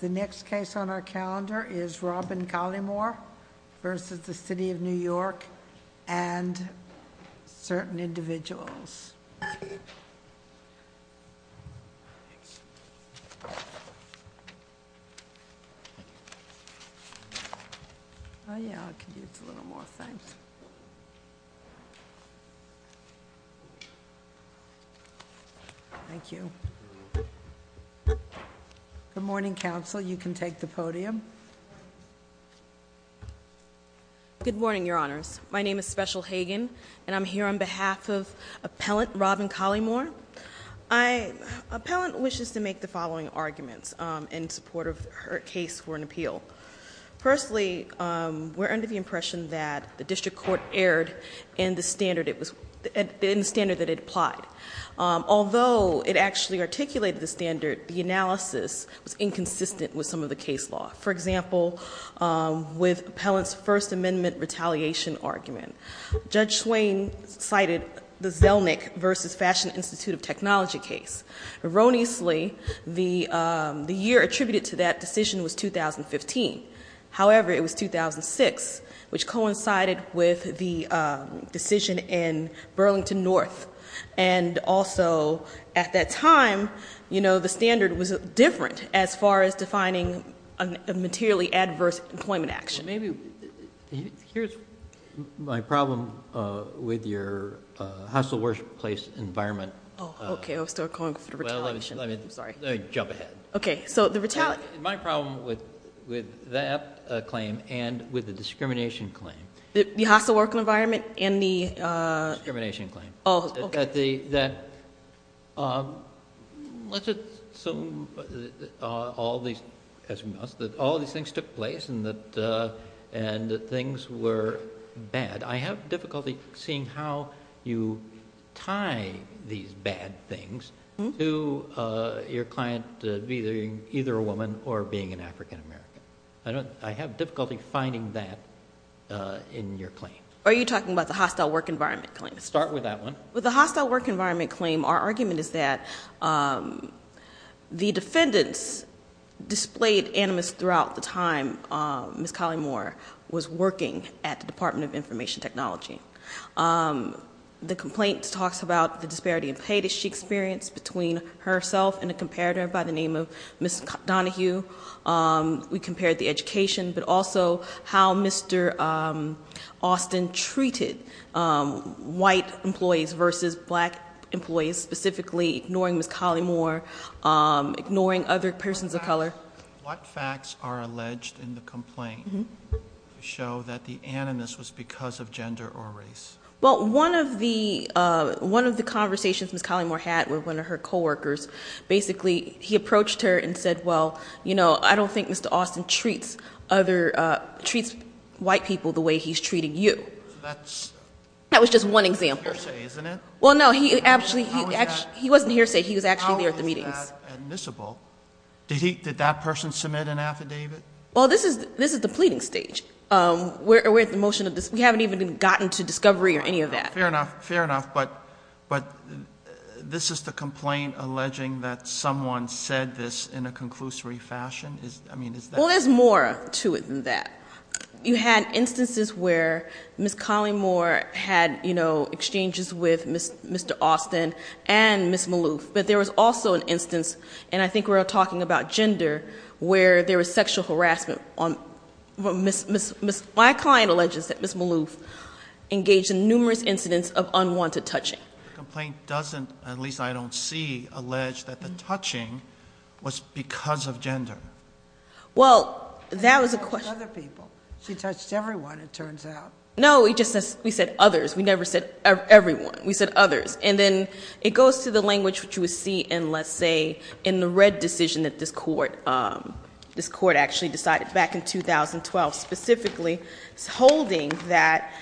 The next case on our calendar is Robin Colymore v. City of New York and certain individuals. Good morning, your honors. My name is Special Hagen. And I'm here on behalf of Appellant Robin Colymore. Appellant wishes to make the following arguments in support of her case for an appeal. Firstly, we're under the impression that the district court erred in the standard that it applied. Although it actually articulated the standard, the analysis was inconsistent with some of the case law. For example, with Appellant's First Amendment retaliation argument. Judge Swain cited the Zelnick v. Fashion Institute of Technology case. Erroneously, the year attributed to that decision was 2015. However, it was 2006, which coincided with the decision in Burlington North. And also, at that time, you know, the standard was different as far as defining a materially adverse employment action. Here's my problem with your hostile workplace environment. Oh, okay. I was still calling for the retaliation. I'm sorry. Let me jump ahead. Okay, so the retaliation. My problem with that claim and with the discrimination claim. The hostile work environment and the? Discrimination claim. Oh, okay. That all these things took place and that things were bad. I have difficulty seeing how you tie these bad things to your client being either a woman or being an African-American. I have difficulty finding that in your claim. Are you talking about the hostile work environment claim? Start with that one. With the hostile work environment claim, our argument is that the defendants displayed animus throughout the time Ms. Collymore was working at the Department of Information Technology. The complaint talks about the disparity in pay that she experienced between herself and a comparator by the name of Ms. Donahue. We compared the education, but also how Mr. Austin treated white employees versus black employees, specifically ignoring Ms. Collymore, ignoring other persons of color. What facts are alleged in the complaint to show that the animus was because of gender or race? Well, one of the conversations Ms. Collymore had with one of her coworkers, basically he approached her and said, well, you know, I don't think Mr. Austin treats white people the way he's treating you. That was just one example. Hearsay, isn't it? Well, no, he wasn't hearsay. He was actually there at the meetings. How is that admissible? Did that person submit an affidavit? Well, this is the pleading stage. We haven't even gotten to discovery or any of that. Fair enough, fair enough. But this is the complaint alleging that someone said this in a conclusory fashion? I mean, is that- Well, there's more to it than that. You had instances where Ms. Collymore had exchanges with Mr. Austin and Ms. Maloof. But there was also an instance, and I think we were talking about gender, where there was sexual harassment. My client alleges that Ms. Maloof engaged in numerous incidents of unwanted touching. The complaint doesn't, at least I don't see, allege that the touching was because of gender. Well, that was a question- She touched other people. She touched everyone, it turns out. No, we just said others. We never said everyone. We said others. And then it goes to the language which you would see in, let's say, in the red decision that this court actually decided back in 2012. Specifically, it's holding that-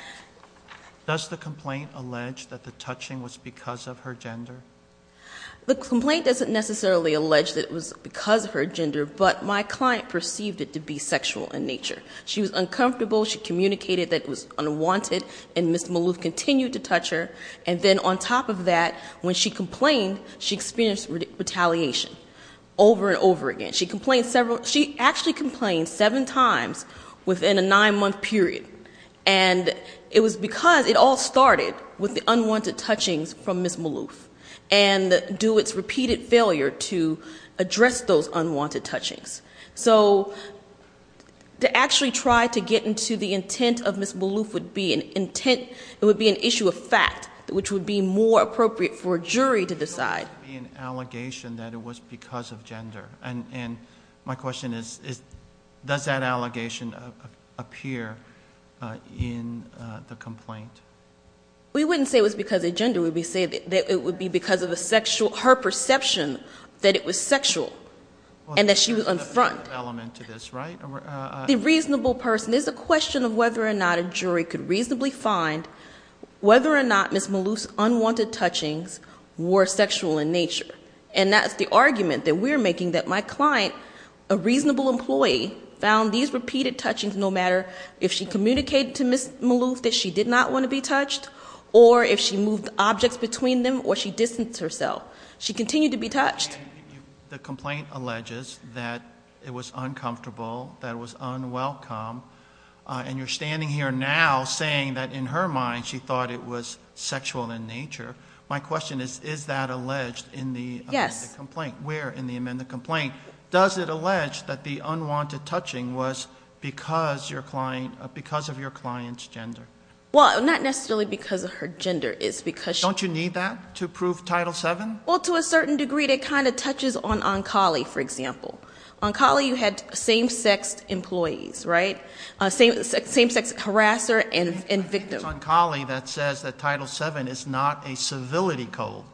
Does the complaint allege that the touching was because of her gender? The complaint doesn't necessarily allege that it was because of her gender, but my client perceived it to be sexual in nature. She was uncomfortable. She communicated that it was unwanted, and Ms. Maloof continued to touch her. And then on top of that, when she complained, she experienced retaliation over and over again. She complained several- She actually complained seven times within a nine-month period, and it was because it all started with the unwanted touchings from Ms. Maloof, and due to its repeated failure to address those unwanted touchings. So to actually try to get into the intent of Ms. Maloof would be an issue of fact, which would be more appropriate for a jury to decide. It doesn't have to be an allegation that it was because of gender. And my question is does that allegation appear in the complaint? We wouldn't say it was because of gender. We would say that it would be because of her perception that it was sexual and that she was in front. Element to this, right? The reasonable person, there's a question of whether or not a jury could reasonably find whether or not Ms. Maloof's unwanted touchings were sexual in nature. And that's the argument that we're making, that my client, a reasonable employee, found these repeated touchings no matter if she communicated to Ms. Maloof that she did not want to be touched, or if she moved objects between them, or she distanced herself. She continued to be touched. The complaint alleges that it was uncomfortable, that it was unwelcome, and you're standing here now saying that in her mind she thought it was sexual in nature. My question is, is that alleged in the amended complaint? Yes. Where in the amended complaint? Does it allege that the unwanted touching was because of your client's gender? Well, not necessarily because of her gender. Don't you need that to prove Title VII? Well, to a certain degree. It kind of touches on Onkali, for example. Onkali, you had same-sex employees, right? Same-sex harasser and victim. It's Onkali that says that Title VII is not a civility code.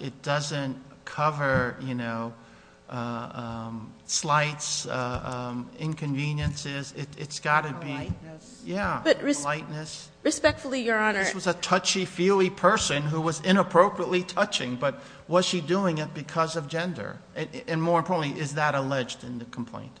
It doesn't cover, you know, slights, inconveniences. It's got to be. Politeness. Yeah, politeness. Respectfully, Your Honor. This was a touchy-feely person who was inappropriately touching, but was she doing it because of gender? And more importantly, is that alleged in the complaint?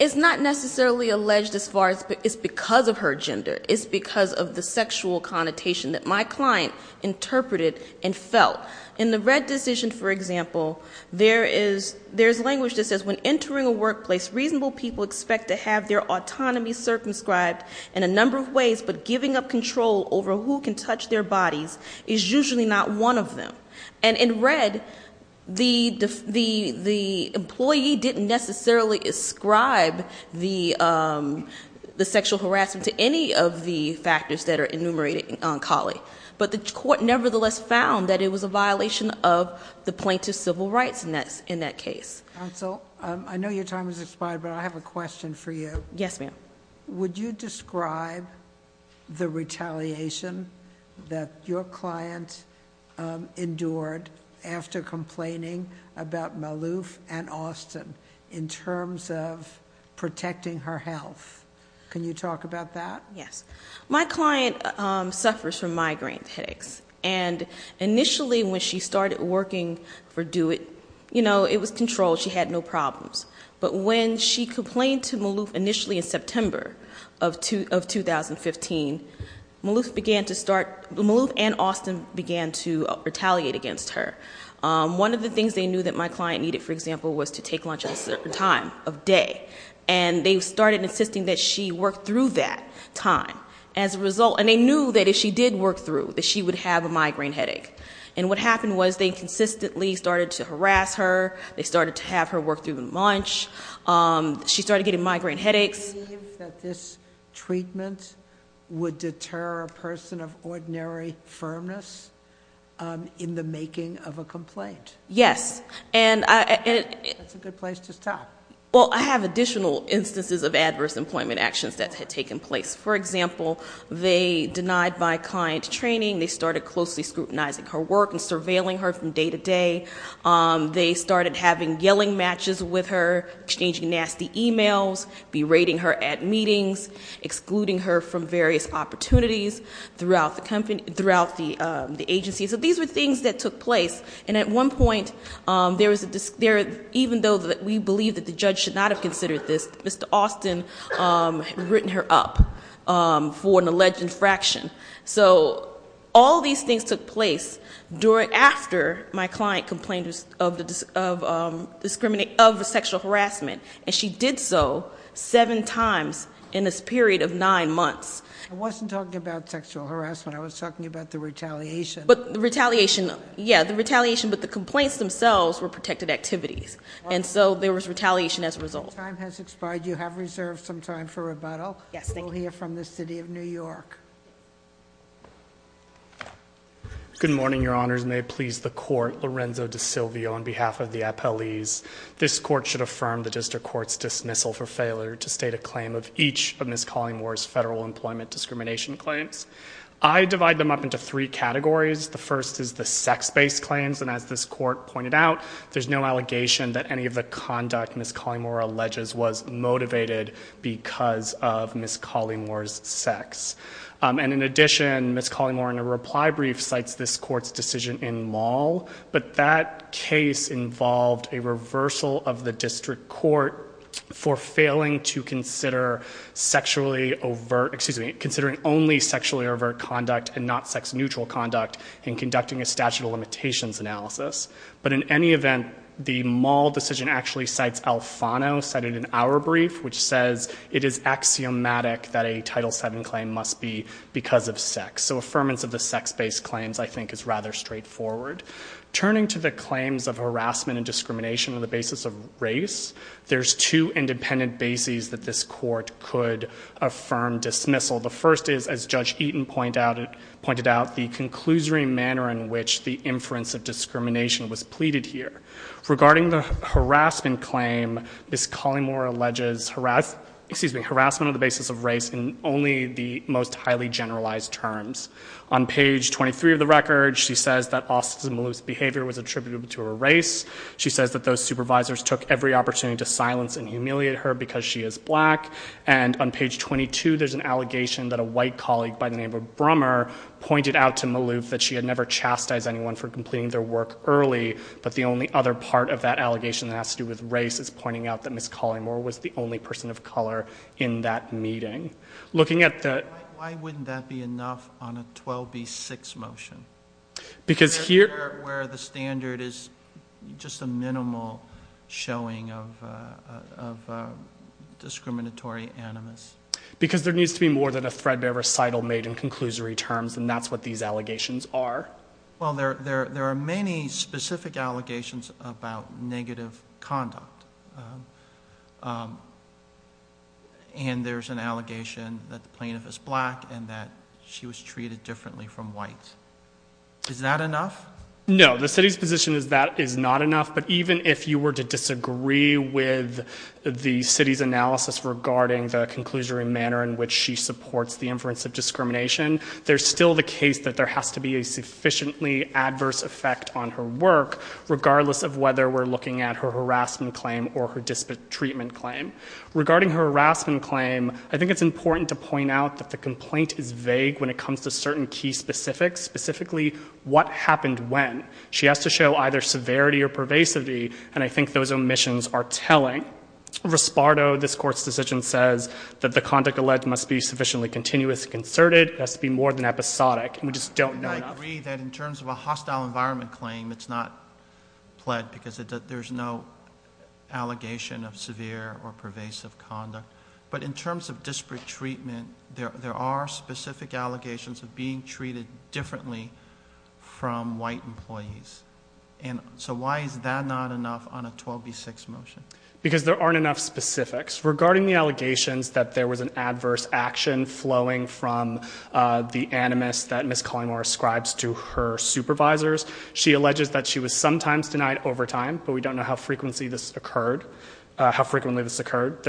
It's not necessarily alleged as far as it's because of her gender. It's because of the sexual connotation that my client interpreted and felt. In the Red decision, for example, there is language that says, when entering a workplace, reasonable people expect to have their autonomy circumscribed in a number of ways, but giving up control over who can touch their bodies is usually not one of them. And in Red, the employee didn't necessarily ascribe the sexual harassment to any of the factors that are enumerated in Onkali. But the court nevertheless found that it was a violation of the plaintiff's civil rights in that case. Counsel, I know your time has expired, but I have a question for you. Yes, ma'am. Would you describe the retaliation that your client endured after complaining about Malouf and Austin in terms of protecting her health? Can you talk about that? Yes. My client suffers from migraine headaches. And initially when she started working for DO-IT, you know, it was controlled. She had no problems. But when she complained to Malouf initially in September of 2015, Malouf and Austin began to retaliate against her. One of the things they knew that my client needed, for example, was to take lunch at a certain time of day. And they started insisting that she work through that time. And they knew that if she did work through, that she would have a migraine headache. And what happened was they consistently started to harass her. They started to have her work through the lunch. She started getting migraine headaches. Do you believe that this treatment would deter a person of ordinary firmness in the making of a complaint? Yes. That's a good place to stop. Well, I have additional instances of adverse employment actions that had taken place. For example, they denied my client training. They started closely scrutinizing her work and surveilling her from day to day. They started having yelling matches with her, exchanging nasty e-mails, berating her at meetings, excluding her from various opportunities throughout the agency. So these were things that took place. And at one point, even though we believe that the judge should not have considered this, Mr. Austin had written her up for an alleged infraction. So all these things took place after my client complained of sexual harassment. And she did so seven times in this period of nine months. I wasn't talking about sexual harassment. I was talking about the retaliation. But the retaliation, yeah, the retaliation, but the complaints themselves were protected activities. And so there was retaliation as a result. Your time has expired. You have reserved some time for rebuttal. Yes, thank you. We'll hear from the city of New York. Good morning, your honors. May it please the court. Lorenzo DeSilvio on behalf of the appellees. This court should affirm the district court's dismissal for failure to state a claim of each of Ms. Collingmore's federal employment discrimination claims. I divide them up into three categories. The first is the sex-based claims. And as this court pointed out, there's no allegation that any of the conduct Ms. Collingmore alleges was motivated because of Ms. Collingmore's sex. And in addition, Ms. Collingmore, in a reply brief, cites this court's decision in law. But that case involved a reversal of the district court for failing to consider sexually overt, excuse me, considering only sexually overt conduct and not sex-neutral conduct in conducting a statute of limitations analysis. But in any event, the mall decision actually cites Alfano, cited in our brief, which says it is axiomatic that a Title VII claim must be because of sex. So affirmance of the sex-based claims, I think, is rather straightforward. Turning to the claims of harassment and discrimination on the basis of race, there's two independent bases that this court could affirm dismissal. The first is, as Judge Eaton pointed out, the conclusory manner in which the inference of discrimination was pleaded here. Regarding the harassment claim, Ms. Collingmore alleges harassment on the basis of race in only the most highly generalized terms. On page 23 of the record, she says that Austin Maloof's behavior was attributable to her race. She says that those supervisors took every opportunity to silence and humiliate her because she is black. And on page 22, there's an allegation that a white colleague by the name of Brummer pointed out to Maloof that she had never chastised anyone for completing their work early. But the only other part of that allegation that has to do with race is pointing out that Ms. Collingmore was the only person of color in that meeting. Looking at the- Why wouldn't that be enough on a 12B6 motion? Because here- Where the standard is just a minimal showing of discriminatory animus. Because there needs to be more than a threadbare recital made in conclusory terms, and that's what these allegations are. Well, there are many specific allegations about negative conduct. And there's an allegation that the plaintiff is black and that she was treated differently from whites. Is that enough? No, the city's position is that is not enough. But even if you were to disagree with the city's analysis regarding the conclusory manner in which she supports the inference of discrimination, there's still the case that there has to be a sufficiently adverse effect on her work, regardless of whether we're looking at her harassment claim or her treatment claim. Regarding her harassment claim, I think it's important to point out that the complaint is vague when it comes to certain key specifics. Specifically, what happened when. She has to show either severity or pervasivity, and I think those omissions are telling. Rispardo, this Court's decision says that the conduct alleged must be sufficiently continuous and concerted. It has to be more than episodic. We just don't know enough. I agree that in terms of a hostile environment claim, it's not pled because there's no allegation of severe or pervasive conduct. But in terms of disparate treatment, there are specific allegations of being treated differently from white employees. So why is that not enough on a 12B6 motion? Because there aren't enough specifics. Regarding the allegations that there was an adverse action flowing from the animus that Ms. Collymore ascribes to her supervisors, she alleges that she was sometimes denied overtime, but we don't know how frequently this occurred. There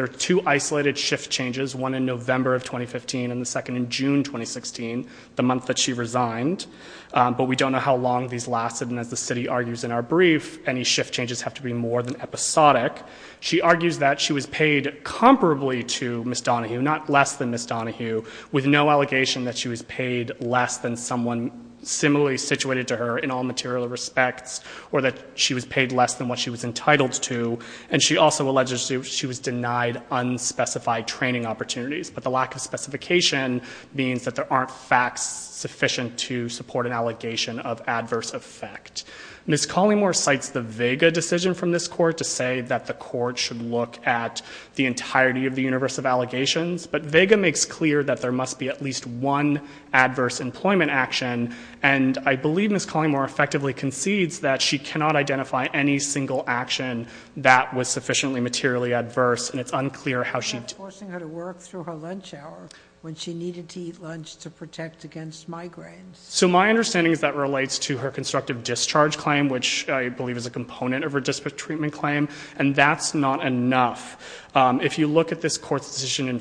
are two isolated shift changes, one in November of 2015 and the second in June 2016, the month that she resigned. But we don't know how long these lasted, and as the city argues in our brief, any shift changes have to be more than episodic. She argues that she was paid comparably to Ms. Donahue, not less than Ms. Donahue, with no allegation that she was paid less than someone similarly situated to her in all material respects, or that she was paid less than what she was entitled to. And she also alleges she was denied unspecified training opportunities. But the lack of specification means that there aren't facts sufficient to support an allegation of adverse effect. Ms. Collymore cites the Vega decision from this court to say that the court should look at the entirety of the universe of allegations, but Vega makes clear that there must be at least one adverse employment action, and I believe Ms. Collymore effectively concedes that she cannot identify any single action that was sufficiently materially adverse. And it's unclear how she- Not forcing her to work through her lunch hour when she needed to eat lunch to protect against migraines. So my understanding is that relates to her constructive discharge claim, which I believe is a component of her disparate treatment claim, and that's not enough. If you look at this court's decision in-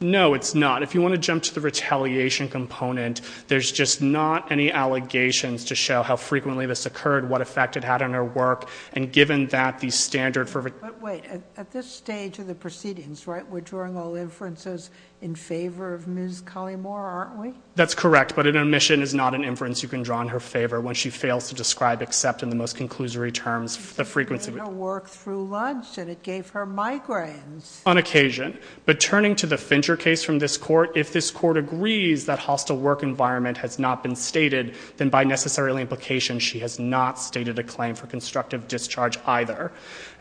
No, it's not. If you want to jump to the retaliation component, there's just not any allegations to show how frequently this occurred, what effect it had on her work, and given that the standard for- But wait, at this stage of the proceedings, right, we're drawing all inferences in favor of Ms. Collymore, aren't we? That's correct, but an omission is not an inference you can draw in her favor when she fails to describe, except in the most conclusory terms, the frequency- She did her work through lunch, and it gave her migraines. On occasion, but turning to the Fincher case from this court, if this court agrees that hostile work environment has not been stated, then by necessary implication she has not stated a claim for constructive discharge either.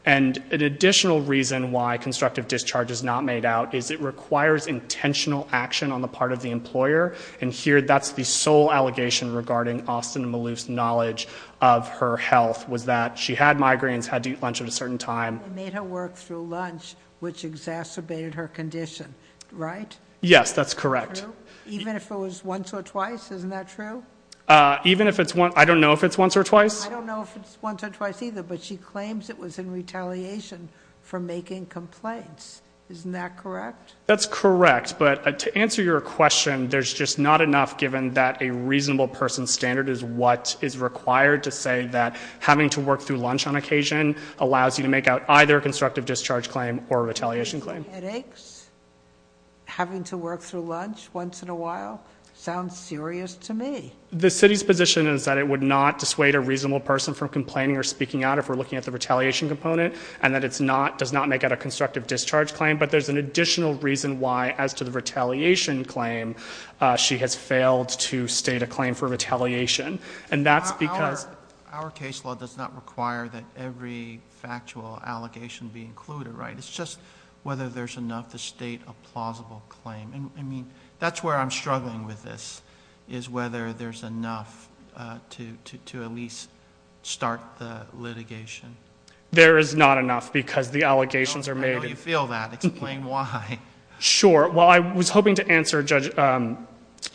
And an additional reason why constructive discharge is not made out is it requires intentional action on the part of the employer, and here that's the sole allegation regarding Austin Maloof's knowledge of her health, was that she had migraines, had to eat lunch at a certain time. She made her work through lunch, which exacerbated her condition, right? Yes, that's correct. Even if it was once or twice, isn't that true? Even if it's once- I don't know if it's once or twice. I don't know if it's once or twice either, but she claims it was in retaliation for making complaints. Isn't that correct? That's correct, but to answer your question, there's just not enough given that a reasonable person's standard is what is required to say that having to work through lunch on occasion allows you to make out either a constructive discharge claim or a retaliation claim. Having headaches? Having to work through lunch once in a while? Sounds serious to me. The city's position is that it would not dissuade a reasonable person from complaining or speaking out if we're looking at the retaliation component, and that it does not make out a constructive discharge claim, but there's an additional reason why, as to the retaliation claim, she has failed to state a claim for retaliation, and that's because- Our case law does not require that every factual allegation be included, right? It's just whether there's enough to state a plausible claim. I mean, that's where I'm struggling with this, is whether there's enough to at least start the litigation. There is not enough because the allegations are made- I know you feel that. Explain why. Sure. Well, I was hoping to answer, Judge,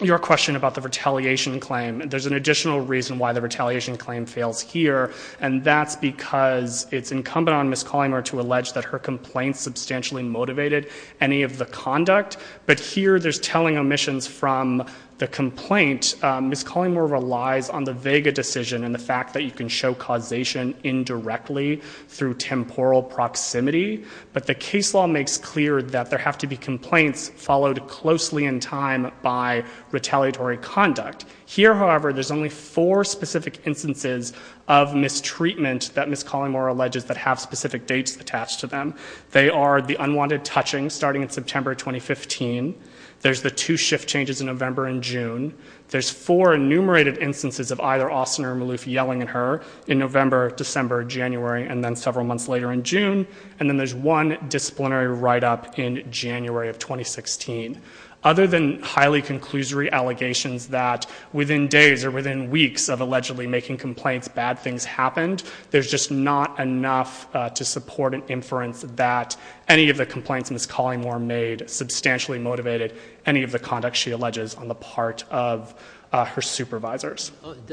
your question about the retaliation claim. There's an additional reason why the retaliation claim fails here, and that's because it's incumbent on Ms. Collymore to allege that her complaints substantially motivated any of the conduct, but here there's telling omissions from the complaint. Ms. Collymore relies on the Vega decision and the fact that you can show causation indirectly through temporal proximity, but the case law makes clear that there have to be complaints followed closely in time by retaliatory conduct. Here, however, there's only four specific instances of mistreatment that Ms. Collymore alleges that have specific dates attached to them. They are the unwanted touching starting in September 2015, there's the two shift changes in November and June, there's four enumerated instances of either Austin or Malouf yelling at her in November, December, January, and then several months later in June, and then there's one disciplinary write-up in January of 2016. Other than highly conclusory allegations that within days or within weeks of allegedly making complaints bad things happened, there's just not enough to support an inference that any of the complaints Ms. Collymore made substantially motivated any of the conduct she alleges on the part of her supervisors.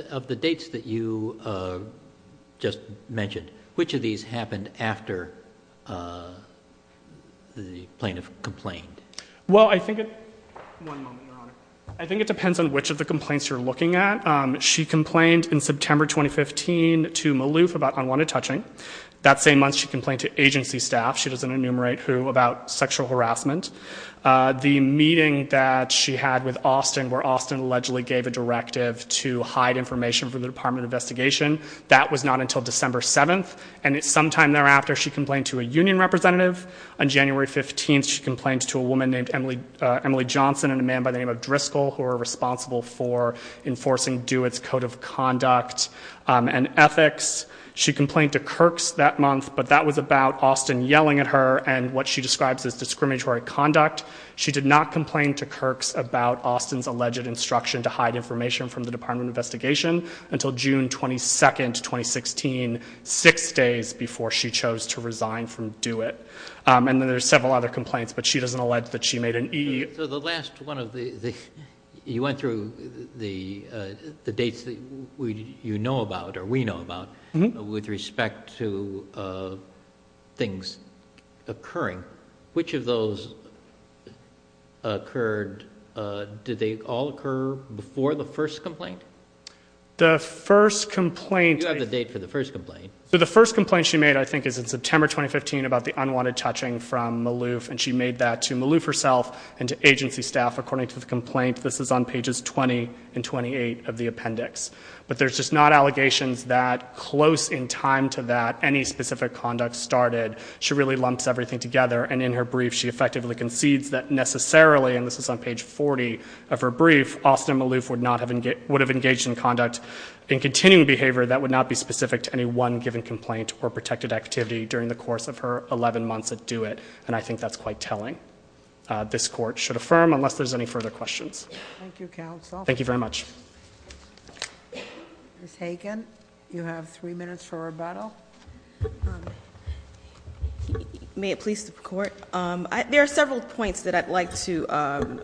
Of the dates that you just mentioned, which of these happened after the plaintiff complained? Well, I think it depends on which of the complaints you're looking at. She complained in September 2015 to Malouf about unwanted touching. That same month she complained to agency staff, she doesn't enumerate who, about sexual harassment. The meeting that she had with Austin where Austin allegedly gave a directive to hide information from the Department of Investigation, that was not until December 7th, and sometime thereafter she complained to a union representative. On January 15th she complained to a woman named Emily Johnson and a man by the name of Driscoll who were responsible for enforcing Dewitt's Code of Conduct and Ethics. She complained to Kirk's that month, but that was about Austin yelling at her and what she describes as discriminatory conduct. She did not complain to Kirk's about Austin's alleged instruction to hide information from the Department of Investigation until June 22nd, 2016, six days before she chose to resign from Dewitt. And then there's several other complaints, but she doesn't allege that she made an E. So the last one of the – you went through the dates that you know about or we know about with respect to things occurring. Which of those occurred – did they all occur before the first complaint? The first complaint – You have the date for the first complaint. So the first complaint she made I think is in September 2015 about the unwanted touching from Maloof, and she made that to Maloof herself and to agency staff according to the complaint. This is on pages 20 and 28 of the appendix. But there's just not allegations that close in time to that any specific conduct started. She really lumps everything together, and in her brief she effectively concedes that necessarily, and this is on page 40 of her brief, Austin Maloof would have engaged in conduct in continuing behavior that would not be specific to any one given complaint or protected activity during the course of her 11 months at Dewitt. And I think that's quite telling. This court should affirm unless there's any further questions. Thank you, counsel. Thank you very much. Ms. Hagan, you have three minutes for rebuttal. May it please the court? There are several points that I'd like to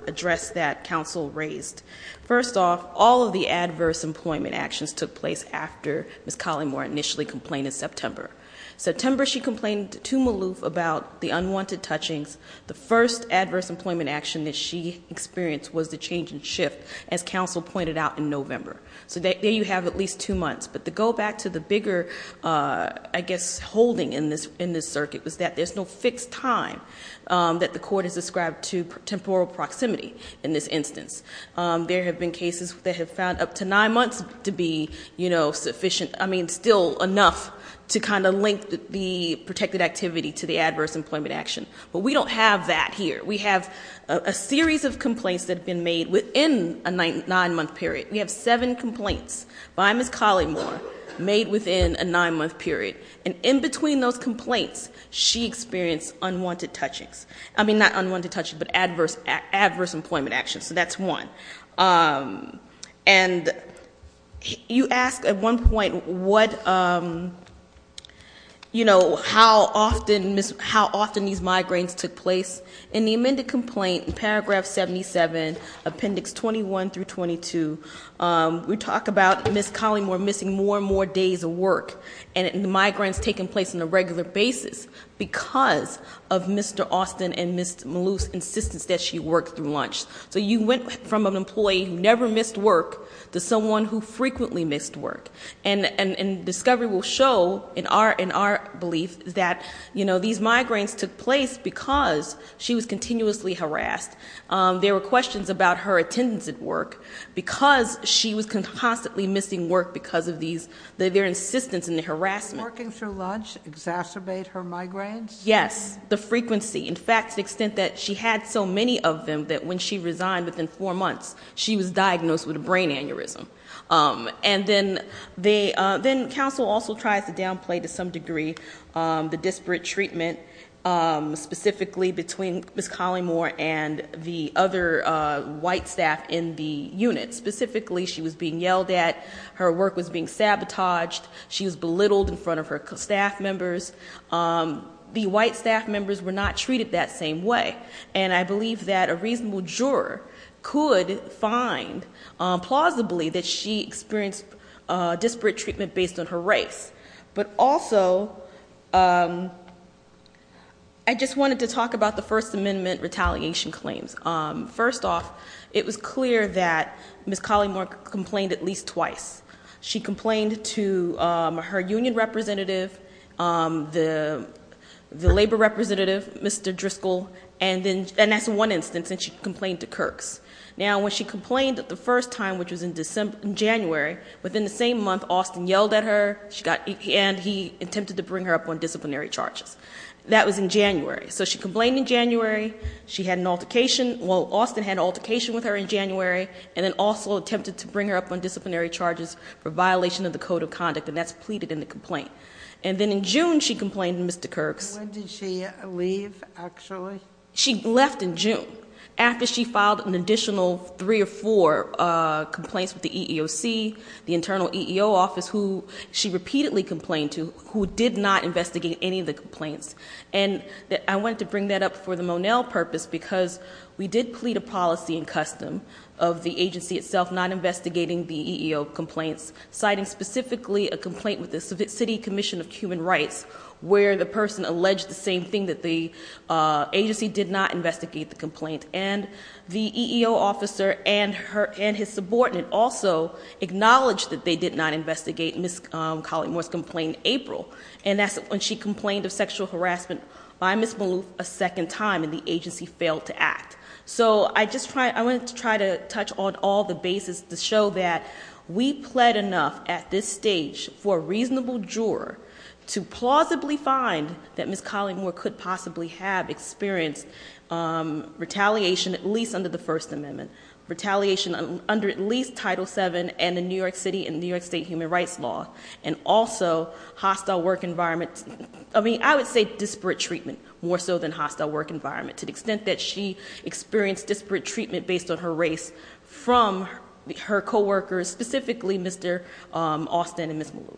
address that counsel raised. First off, all of the adverse employment actions took place after Ms. Collymore initially complained in September. September she complained to Maloof about the unwanted touchings. The first adverse employment action that she experienced was the change in shift, as counsel pointed out, in November. So there you have at least two months. But to go back to the bigger, I guess, holding in this circuit, was that there's no fixed time that the court has described to temporal proximity in this instance. There have been cases that have found up to nine months to be sufficient, I mean still enough, to kind of link the protected activity to the adverse employment action. But we don't have that here. We have a series of complaints that have been made within a nine-month period. We have seven complaints by Ms. Collymore made within a nine-month period. And in between those complaints, she experienced unwanted touchings. I mean, not unwanted touchings, but adverse employment actions. So that's one. And you asked at one point, how often these migraines took place. In the amended complaint, in paragraph 77, appendix 21 through 22, we talk about Ms. Collymore missing more and more days of work. And the migraines taking place on a regular basis because of Mr. Austin and Ms. Maloof's insistence that she work through lunch. So you went from an employee who never missed work to someone who frequently missed work. And discovery will show in our belief that these migraines took place because she was continuously harassed. There were questions about her attendance at work because she was constantly missing work because of their insistence in the harassment. Working through lunch exacerbate her migraines? Yes. The frequency. In fact, to the extent that she had so many of them that when she resigned within four months, she was diagnosed with a brain aneurysm. And then council also tries to downplay to some degree the disparate treatment, specifically between Ms. Collymore and the other white staff in the unit. Specifically, she was being yelled at. Her work was being sabotaged. She was belittled in front of her staff members. The white staff members were not treated that same way. And I believe that a reasonable juror could find plausibly that she experienced disparate treatment based on her race. But also, I just wanted to talk about the First Amendment retaliation claims. First off, it was clear that Ms. Collymore complained at least twice. She complained to her union representative, the labor representative, Mr. Driscoll. And that's one instance that she complained to Kirk's. Now, when she complained the first time, which was in January, within the same month, Austin yelled at her. And he attempted to bring her up on disciplinary charges. That was in January. So she complained in January. She had an altercation. Well, Austin had an altercation with her in January. And then also attempted to bring her up on disciplinary charges for violation of the code of conduct. And that's pleaded in the complaint. And then in June, she complained to Mr. Kirk's. When did she leave, actually? She left in June, after she filed an additional three or four complaints with the EEOC, the internal EEO office, who she repeatedly complained to, who did not investigate any of the complaints. And I wanted to bring that up for the Monell purpose, because we did plead a policy and custom of the agency itself not investigating the EEO complaints. Citing specifically a complaint with the City Commission of Human Rights, where the person alleged the same thing, that the agency did not investigate the complaint. And the EEO officer and his subordinate also acknowledged that they did not investigate Ms. Collymore's complaint in April. And that's when she complained of sexual harassment by Ms. Maloof a second time, and the agency failed to act. So I wanted to try to touch on all the bases to show that we pled enough at this stage for a reasonable juror to plausibly find that Ms. Collymore could possibly have experienced retaliation, at least under the First Amendment. Retaliation under at least Title VII and the New York City and New York State Human Rights Law. And also hostile work environment, I mean, I would say disparate treatment more so than hostile work environment. To the extent that she experienced disparate treatment based on her race from her co-workers, specifically Mr. Austin and Ms. Maloof.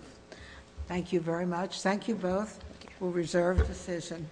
Thank you very much. Thank you both. We'll reserve the decision.